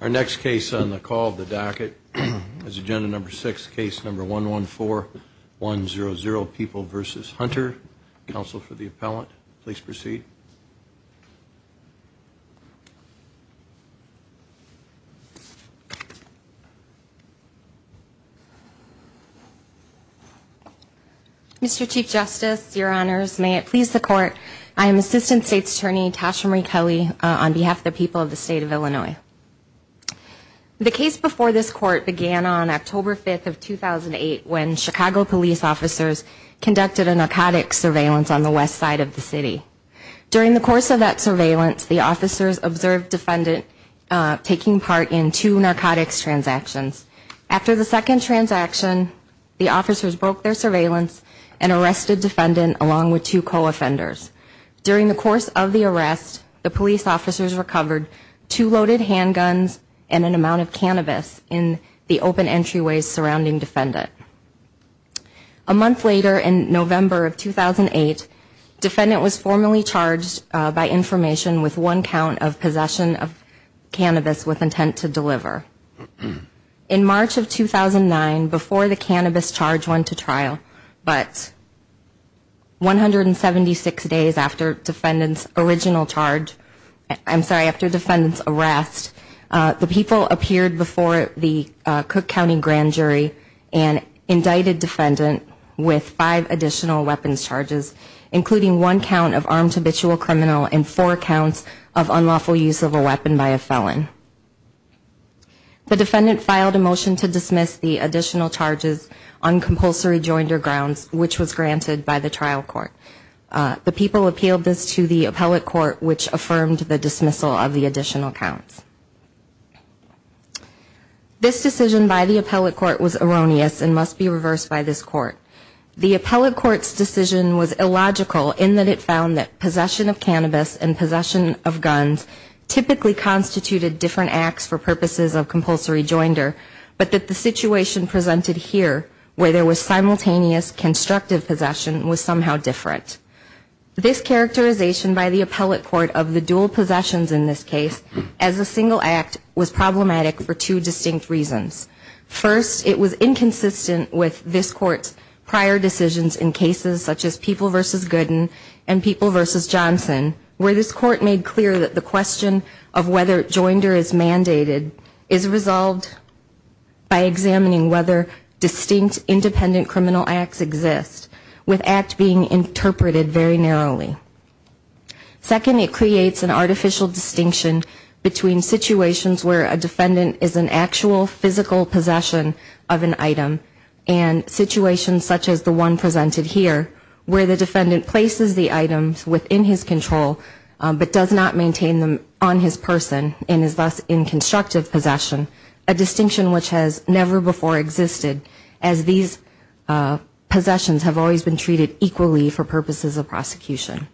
Our next case on the call of the docket is agenda number six case number one one four 1-0-0 people vs. Hunter counsel for the appellant, please proceed Mr.. Chief Justice your honors may it please the court I am assistant state's attorney Tasha Marie Kelly on behalf of the people of the state of Illinois The case before this court began on October 5th of 2008 when Chicago police officers Conducted a narcotics surveillance on the west side of the city During the course of that surveillance the officers observed defendant taking part in two narcotics transactions after the second transaction the officers broke their surveillance and During the course of the arrest the police officers recovered two loaded handguns and an amount of cannabis in the open entryways surrounding defendant a month later in November of 2008 Defendant was formally charged by information with one count of possession of cannabis with intent to deliver in March of 2009 before the cannabis charge went to trial, but 176 days after defendants original charge, I'm sorry after defendants arrest the people appeared before the Cook County Grand Jury and indicted defendant with five additional weapons charges Including one count of armed habitual criminal and four counts of unlawful use of a weapon by a felon The defendant filed a motion to dismiss the additional charges on The trial court the people appealed this to the appellate court which affirmed the dismissal of the additional counts This decision by the appellate court was erroneous and must be reversed by this court The appellate courts decision was illogical in that it found that possession of cannabis and possession of guns Typically constituted different acts for purposes of compulsory joinder, but that the situation presented here where there was simultaneous Constructive possession was somehow different This characterization by the appellate court of the dual possessions in this case as a single act was problematic for two distinct reasons First it was inconsistent with this court's prior decisions in cases such as people versus Gooden and people versus Johnson where this court made clear that the question of whether joinder is mandated is resolved By examining whether distinct independent criminal acts exist with act being interpreted very narrowly Second it creates an artificial distinction between situations where a defendant is an actual physical possession of an item and Situations such as the one presented here where the defendant places the items within his control But does not maintain them on his person and is thus in constructive possession a distinction which has never before existed as these Possessions have always been treated equally for purposes of prosecution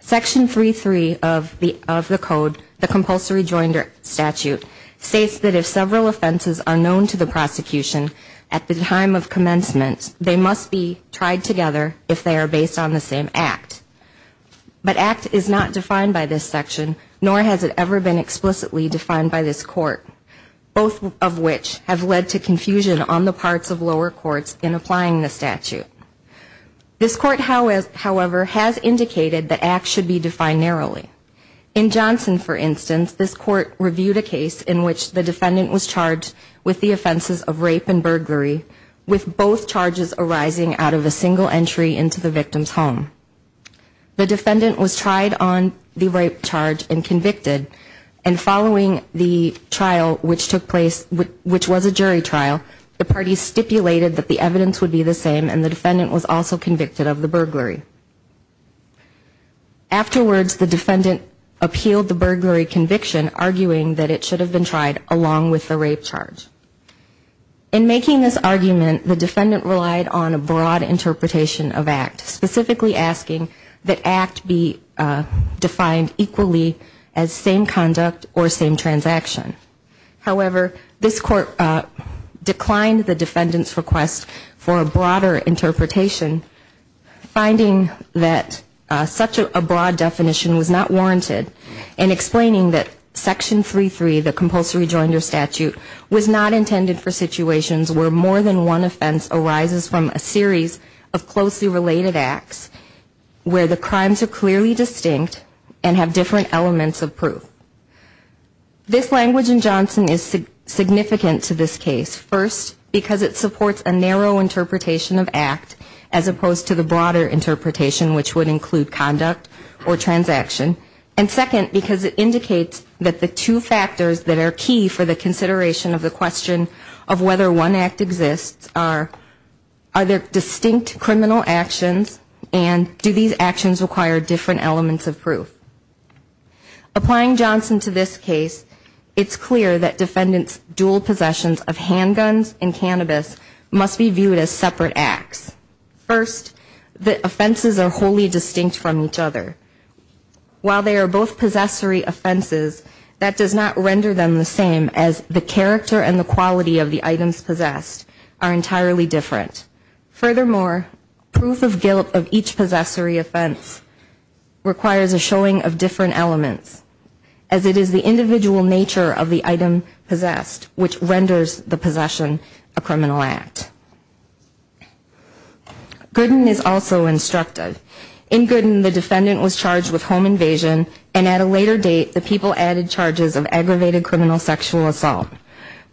Section 3 3 of the of the code the compulsory joinder statute States that if several offenses are known to the prosecution at the time of commencement They must be tried together if they are based on the same act But act is not defined by this section nor has it ever been explicitly defined by this court Both of which have led to confusion on the parts of lower courts in applying the statute this court however has indicated the act should be defined narrowly in Johnson for instance this court reviewed a case in which the defendant was charged with the offenses of rape and burglary With both charges arising out of a single entry into the victim's home the defendant was tried on the rape charge and convicted and Following the trial which took place with which was a jury trial The party stipulated that the evidence would be the same and the defendant was also convicted of the burglary Afterwards the defendant appealed the burglary conviction arguing that it should have been tried along with the rape charge in Making this argument the defendant relied on a broad interpretation of act specifically asking that act be Defined equally as same conduct or same transaction however, this court Declined the defendants request for a broader interpretation finding that Such a broad definition was not warranted and explaining that section 3 3 the compulsory joinder statute Was not intended for situations where more than one offense arises from a series of closely related acts Where the crimes are clearly distinct and have different elements of proof This language in Johnson is Significant to this case first because it supports a narrow interpretation of act as opposed to the broader interpretation which would include conduct or Transaction and second because it indicates that the two factors that are key for the consideration of the question of whether one act exists are Are there distinct criminal actions and do these actions require different elements of proof? Applying Johnson to this case. It's clear that defendants dual possessions of handguns and cannabis Must be viewed as separate acts First the offenses are wholly distinct from each other while they are both possessory offenses that does not render them the same as the character and the quality of the items possessed are entirely different furthermore proof of guilt of each possessory offense requires a showing of different elements as It is the individual nature of the item possessed which renders the possession a criminal act Gooden is also instructed in Gooden The defendant was charged with home invasion and at a later date the people added charges of aggravated criminal sexual assault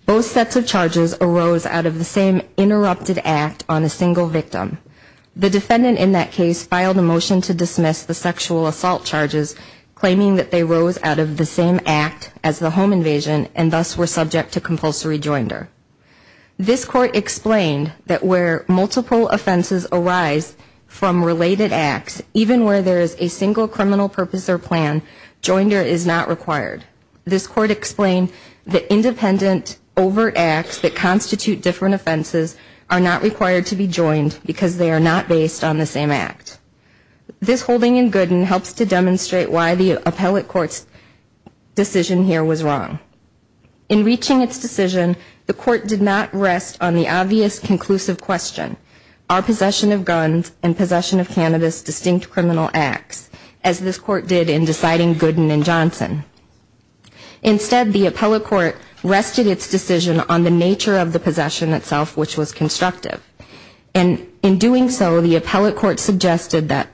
Both sets of charges arose out of the same interrupted act on a single victim The defendant in that case filed a motion to dismiss the sexual assault charges Claiming that they rose out of the same act as the home invasion and thus were subject to compulsory joinder This court explained that where multiple offenses arise from related acts Even where there is a single criminal purpose or plan joinder is not required This court explained that independent overt acts that constitute different offenses are not required to be joined Because they are not based on the same act This holding in Gooden helps to demonstrate why the appellate courts Decision here was wrong in Reaching its decision. The court did not rest on the obvious conclusive question Our possession of guns and possession of cannabis distinct criminal acts as this court did in deciding Gooden and Johnson instead the appellate court rested its decision on the nature of the possession itself, which was constructive and in doing so the appellate court suggested that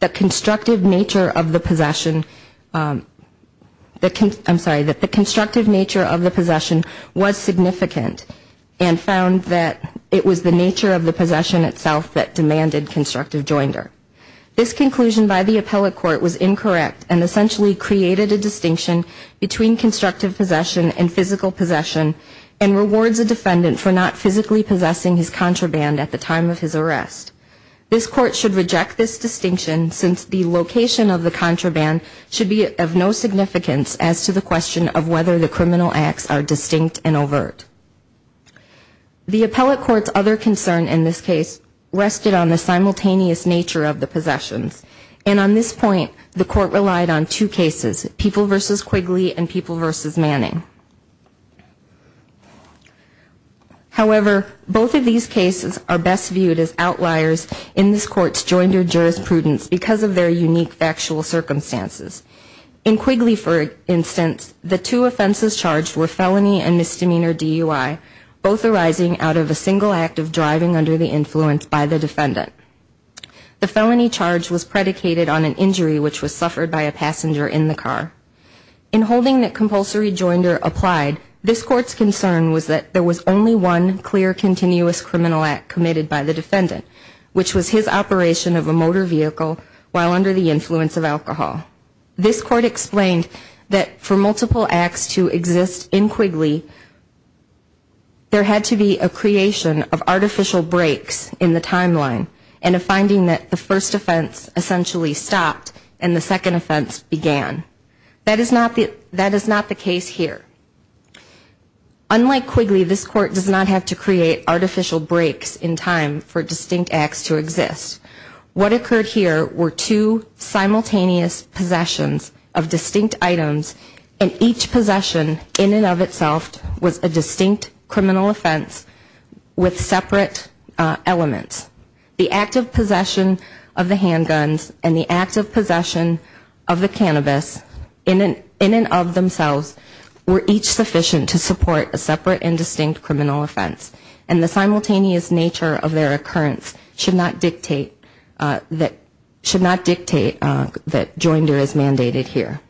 The constructive nature of the possession The I'm sorry that the constructive nature of the possession was significant and Found that it was the nature of the possession itself that demanded constructive joinder This conclusion by the appellate court was incorrect and essentially created a distinction between Constructive possession and physical possession and rewards a defendant for not physically possessing his contraband at the time of his arrest This court should reject this distinction since the location of the contraband should be of no Significance as to the question of whether the criminal acts are distinct and overt The appellate courts other concern in this case rested on the simultaneous nature of the possessions and on this point The court relied on two cases people versus Quigley and people versus Manning However, both of these cases are best viewed as outliers in this court's joinder jurisprudence because of their unique factual Circumstances in Quigley for instance the two offenses charged were felony and misdemeanor DUI Both arising out of a single act of driving under the influence by the defendant The felony charge was predicated on an injury, which was suffered by a passenger in the car in This court's concern was that there was only one clear continuous criminal act committed by the defendant Which was his operation of a motor vehicle while under the influence of alcohol This court explained that for multiple acts to exist in Quigley There had to be a creation of artificial breaks in the timeline and a finding that the first offense Essentially stopped and the second offense began That is not the that is not the case here Unlike Quigley this court does not have to create artificial breaks in time for distinct acts to exist What occurred here were two? Simultaneous possessions of distinct items and each possession in and of itself was a distinct criminal offense with separate Elements the active possession of the handguns and the active possession of the cannabis in an in and of themselves were each sufficient to support a separate and distinct criminal offense and the Simultaneous nature of their occurrence should not dictate That should not dictate that joinder is mandated here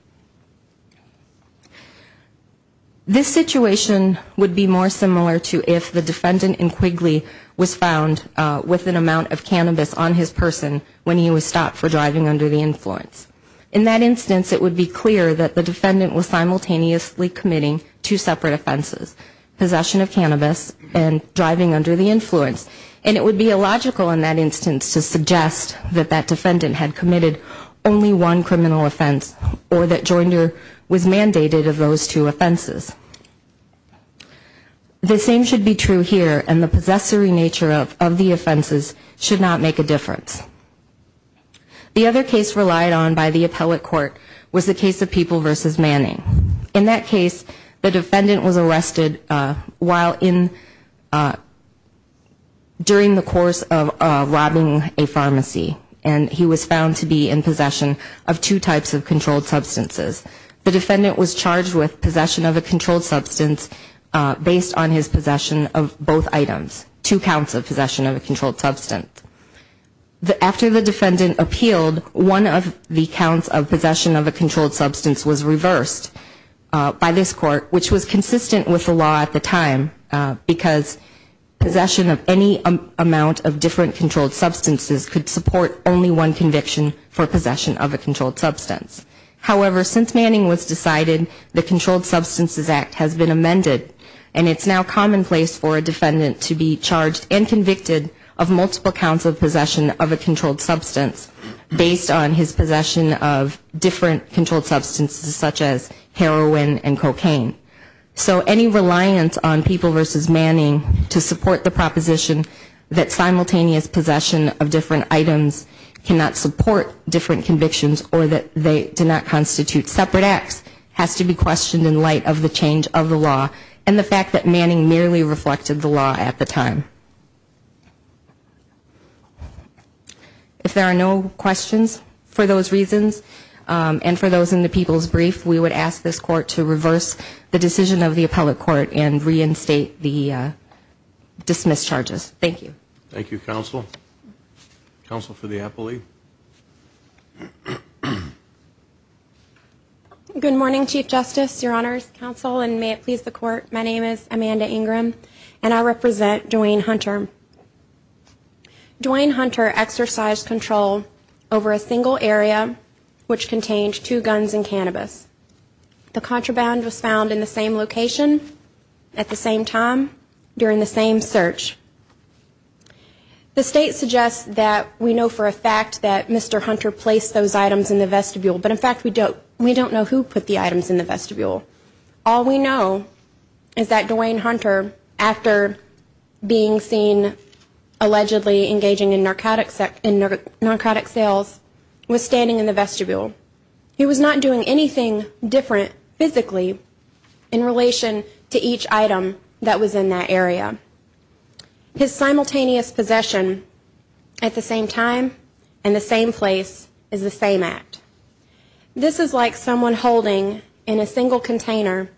This Situation would be more similar to if the defendant in Quigley was found With an amount of cannabis on his person when he was stopped for driving under the influence in that instance It would be clear that the defendant was simultaneously committing two separate offenses Possession of cannabis and driving under the influence and it would be illogical in that instance to suggest that that defendant had committed Only one criminal offense or that joinder was mandated of those two offenses The same should be true here and the possessory nature of the offenses should not make a difference The other case relied on by the appellate court was the case of people versus Manning in that case the defendant was arrested while in During the course of Robbing a pharmacy and he was found to be in possession of two types of controlled substances The defendant was charged with possession of a controlled substance Based on his possession of both items two counts of possession of a controlled substance The after the defendant appealed one of the counts of possession of a controlled substance was reversed By this court, which was consistent with the law at the time Because Possession of any amount of different controlled substances could support only one conviction for possession of a controlled substance However, since Manning was decided the Controlled Substances Act has been amended and it's now commonplace for a defendant to be charged and convicted of multiple counts of possession of a controlled substance Based on his possession of different controlled substances such as heroin and cocaine So any reliance on people versus Manning to support the proposition that simultaneous possession of different items Cannot support different convictions or that they do not constitute separate acts Has to be questioned in light of the change of the law and the fact that Manning merely reflected the law at the time If there are no questions for those reasons And for those in the people's brief, we would ask this court to reverse the decision of the appellate court and reinstate the Dismissed charges. Thank you. Thank you counsel counsel for the appellee Good morning chief justice your honors counsel and may it please the court. My name is Amanda Ingram and I represent Dwayne Hunter Dwayne Hunter exercised control over a single area Which contained two guns and cannabis? The contraband was found in the same location at the same time during the same search The state suggests that we know for a fact that mr. Hunter placed those items in the vestibule But in fact, we don't we don't know who put the items in the vestibule. All we know is that Dwayne Hunter after being seen Allegedly engaging in narcotic sex in narcotic sales was standing in the vestibule He was not doing anything different physically in Relation to each item that was in that area His simultaneous possession at the same time and the same place is the same act This is like someone holding in a single container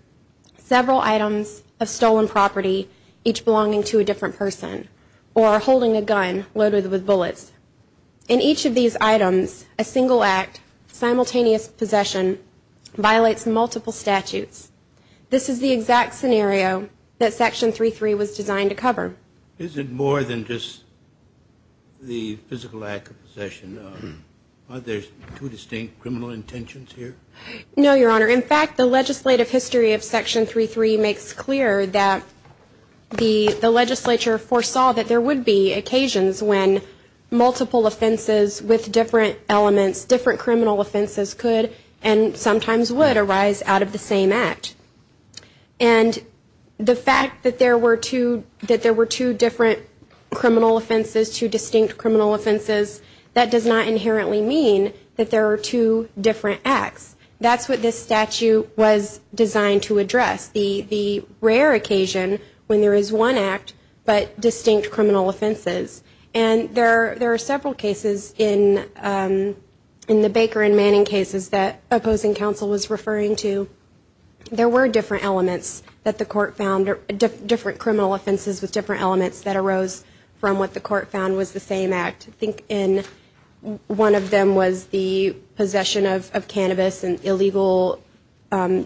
Several items of stolen property each belonging to a different person or holding a gun loaded with bullets in Each of these items a single act simultaneous possession violates multiple statutes This is the exact scenario that section 3 3 was designed to cover. Is it more than just the physical act of possession There's two distinct criminal intentions here, no, your honor in fact the legislative history of section 3 3 makes clear that the the legislature foresaw that there would be occasions when multiple offenses with different elements different criminal offenses could and sometimes would arise out of the same act and The fact that there were two that there were two different Criminal offenses two distinct criminal offenses that does not inherently mean that there are two different acts That's what this statute was designed to address the the rare occasion when there is one act but distinct criminal offenses and there there are several cases in in the Baker and Manning cases that opposing counsel was referring to There were different elements that the court found or different criminal offenses with different elements that arose from what the court found was the same act I think in One of them was the possession of cannabis and illegal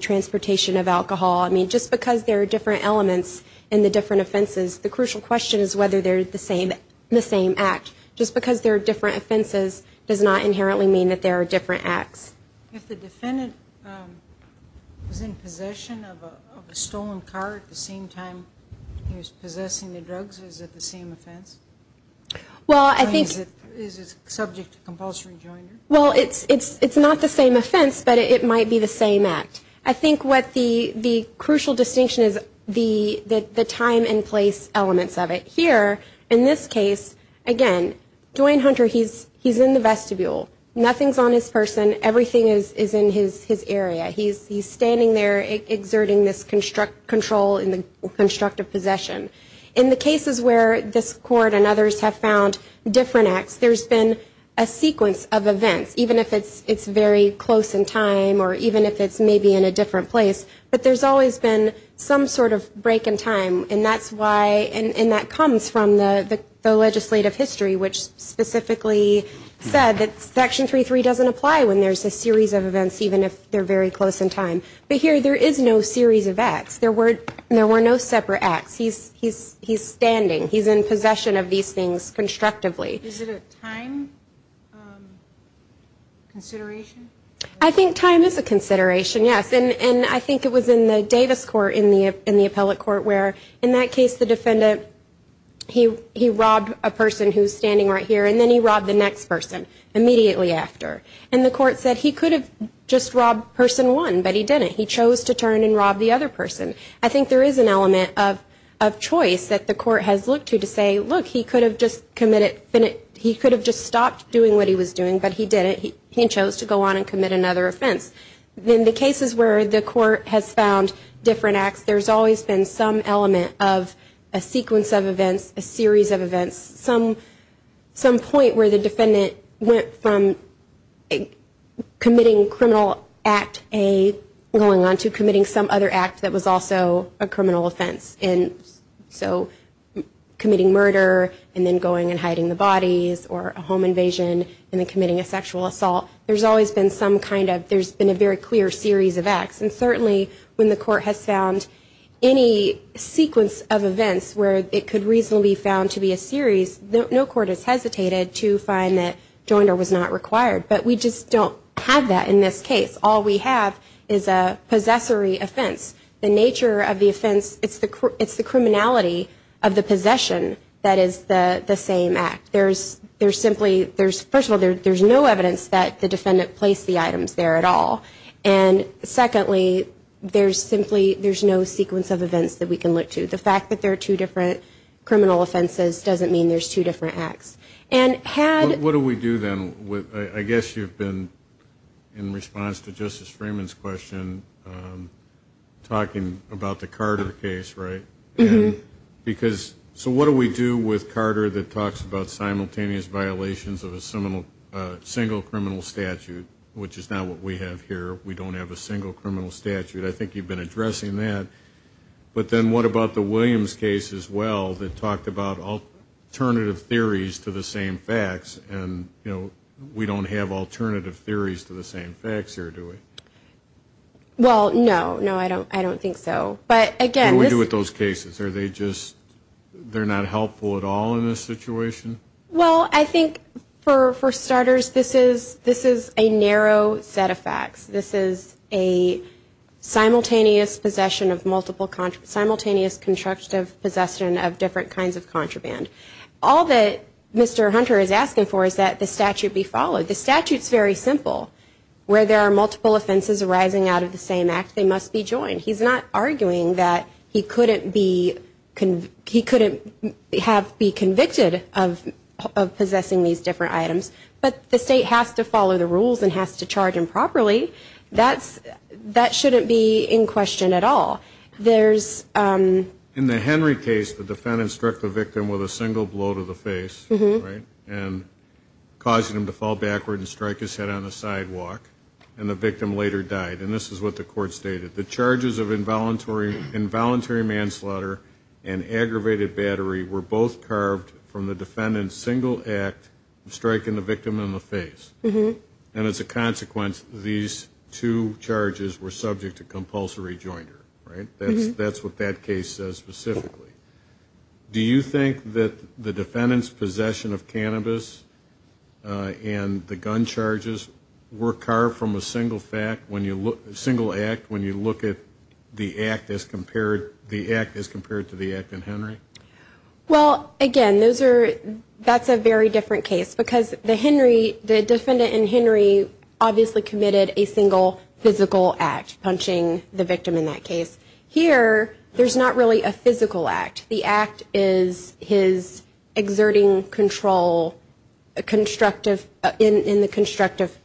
Transportation of alcohol. I mean just because there are different elements in the different offenses The crucial question is whether they're the same the same act just because there are different offenses Does not inherently mean that there are different acts Possession of a stolen car at the same time. He was possessing the drugs. Is it the same offense? Well, I think is it subject to compulsory joiner? Well, it's it's it's not the same offense, but it might be the same act I think what the the crucial distinction is the that the time and place elements of it here in this case Again, Dwayne Hunter. He's he's in the vestibule. Nothing's on his person. Everything is is in his his area He's standing there Exerting this construct control in the constructive possession in the cases where this court and others have found Different acts there's been a sequence of events Even if it's it's very close in time or even if it's maybe in a different place but there's always been some sort of break in time and that's why and that comes from the legislative history which Specifically said that section 3 3 doesn't apply when there's a series of events Even if they're very close in time, but here there is no series of acts. There were there were no separate acts He's he's he's standing. He's in possession of these things constructively I think time is a consideration Yes And and I think it was in the Davis court in the in the appellate court where in that case the defendant He he robbed a person who's standing right here and then he robbed the next person Immediately after and the court said he could have just robbed person one, but he did it He chose to turn and rob the other person I think there is an element of of Choice that the court has looked to to say look he could have just committed But he could have just stopped doing what he was doing, but he did it He chose to go on and commit another offense then the cases where the court has found different acts there's always been some element of a sequence of events a series of events some some point where the defendant went from Committing criminal act a going on to committing some other act that was also a criminal offense and so Committing murder and then going and hiding the bodies or a home invasion and then committing a sexual assault There's always been some kind of there's been a very clear series of acts and certainly when the court has found any Sequence of events where it could reasonably found to be a series No court has hesitated to find that joinder was not required But we just don't have that in this case all we have is a possessory offense the nature of the offense It's the it's the criminality of the possession. That is the the same act there's there's simply there's first of all there's no evidence that the defendant placed the items there at all and Secondly, there's simply there's no sequence of events that we can look to the fact that there are two different criminal offenses doesn't mean there's two different acts and What do we do then with I guess you've been in response to justice Freeman's question Talking about the Carter case, right? Because so what do we do with Carter that talks about simultaneous violations of a seminal single criminal statute? Which is now what we have here. We don't have a single criminal statute. I think you've been addressing that But then what about the Williams case as well that talked about all Alternative theories to the same facts and you know, we don't have alternative theories to the same facts here, do we? Well, no, no, I don't I don't think so. But again, we do with those cases. Are they just They're not helpful at all in this situation Well, I think for for starters this is this is a narrow set of facts this is a Simultaneous possession of multiple contract simultaneous constructive possession of different kinds of contraband all that Mr. Hunter is asking for is that the statute be followed the statutes very simple Where there are multiple offenses arising out of the same act they must be joined He's not arguing that he couldn't be Can he couldn't have be convicted of? Possessing these different items, but the state has to follow the rules and has to charge improperly That's that shouldn't be in question at all. There's in the Henry case the defendant struck the victim with a single blow to the face and Causing him to fall backward and strike his head on the sidewalk and the victim later died And this is what the court stated the charges of involuntary Involuntary manslaughter and Aggravated battery were both carved from the defendants single act Striking the victim in the face. Mm-hmm And it's a consequence these two charges were subject to compulsory jointer, right? That's that's what that case says specifically Do you think that the defendants possession of cannabis? and the gun charges Were carved from a single fact when you look a single act when you look at The act as compared the act as compared to the act in Henry Well again, those are that's a very different case because the Henry the defendant in Henry Obviously committed a single physical act punching the victim in that case here There's not really a physical act the act is his exerting control a Constructive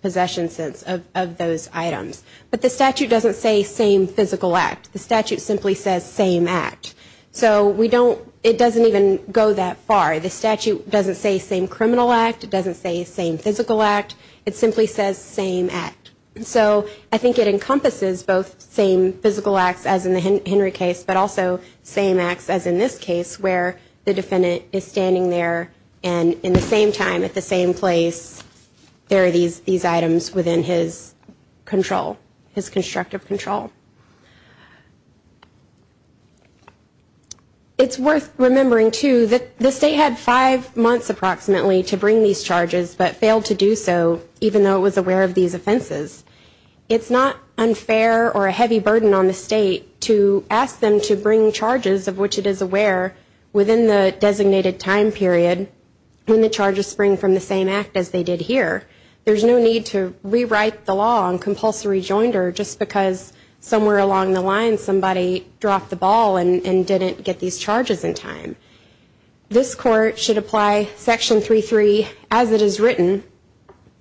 possession sense of those items, but the statute doesn't say same physical act the statute simply says same act So we don't it doesn't even go that far the statute doesn't say same criminal act It doesn't say same physical act It simply says same act and so I think it encompasses both same physical acts as in the Henry case But also same acts as in this case where the defendant is standing there and in the same time at the same place There are these these items within his control his constructive control It's worth remembering to that the state had five months approximately to bring these charges But failed to do so even though it was aware of these offenses It's not unfair or a heavy burden on the state to ask them to bring charges of which it is aware Within the designated time period When the charges spring from the same act as they did here There's no need to rewrite the law on compulsory joinder just because somewhere along the line somebody Dropped the ball and didn't get these charges in time This court should apply section 3 3 as it is written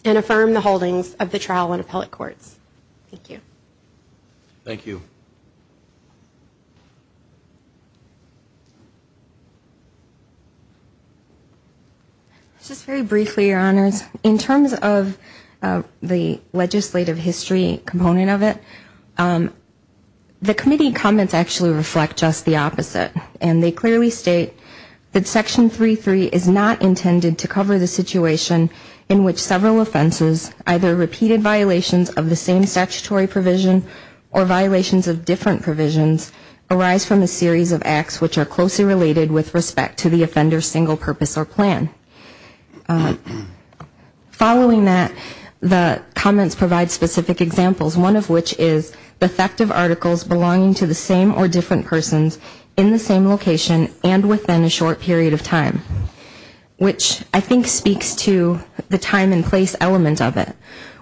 and affirm the holdings of the trial and appellate courts Thank you Thank you Just very briefly your honors in terms of the legislative history component of it The committee comments actually reflect just the opposite and they clearly state that Section 3 3 is not intended to cover the situation in which several offenses either Repeated violations of the same statutory provision or violations of different provisions Arise from a series of acts which are closely related with respect to the offender single purpose or plan Following that the comments provide specific examples One of which is the effective articles belonging to the same or different persons in the same location and within a short period of time Which I think speaks to the time and place element of it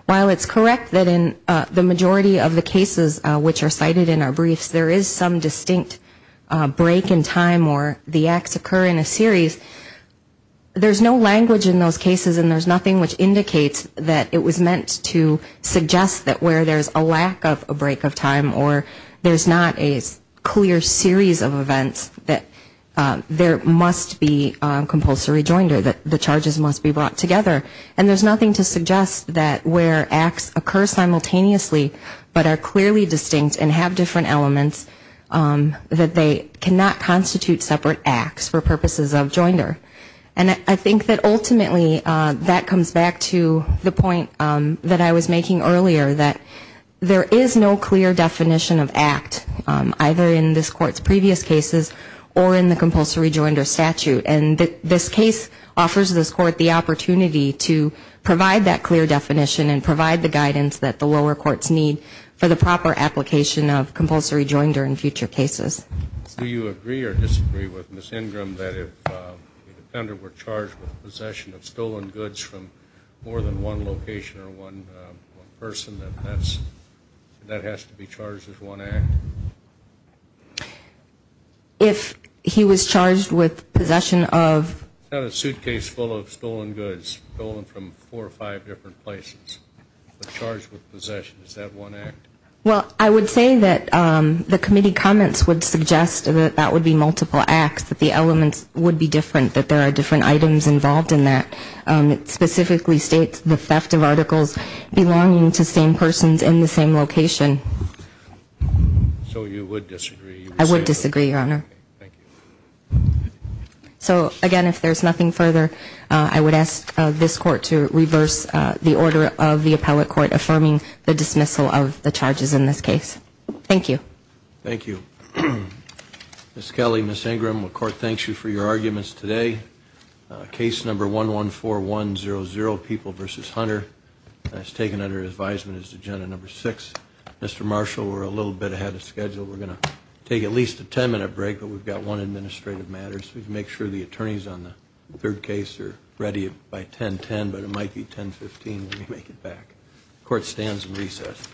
While it's correct that in the majority of the cases which are cited in our briefs there is some distinct Break in time or the acts occur in a series there's no language in those cases and there's nothing which indicates that it was meant to suggest that where there's a lack of a break of time or there's not a clear series of events that There must be Compulsory joinder that the charges must be brought together and there's nothing to suggest that where acts occur simultaneously But are clearly distinct and have different elements That they cannot constitute separate acts for purposes of joinder And I think that ultimately that comes back to the point that I was making earlier that There is no clear definition of act Either in this court's previous cases or in the compulsory joinder statute and that this case offers this court the opportunity to Provide that clear definition and provide the guidance that the lower courts need for the proper application of compulsory joinder in future cases Do you agree or disagree with Miss Ingram that if? Defender were charged with possession of stolen goods from more than one location or one person that that's That has to be charged as one act If He was charged with possession of a suitcase full of stolen goods stolen from four or five different places Well, I would say that The committee comments would suggest that that would be multiple acts that the elements would be different that there are different items involved in that It specifically states the theft of articles belonging to same persons in the same location So you would disagree I would disagree your honor So again, if there's nothing further I would ask this court to reverse the order of the appellate court affirming the dismissal of the charges in this case Thank you. Thank you Miss Kelly, Miss Ingram will court. Thanks you for your arguments today Case number one one four one zero zero people versus hunter has taken under advisement is agenda number six Mr. Marshall, we're a little bit ahead of schedule. We're gonna take at least a 10-minute break, but we've got one administrative matters We can make sure the attorneys on the third case are ready by 1010, but it might be 1015 Let me make it back court stands and recess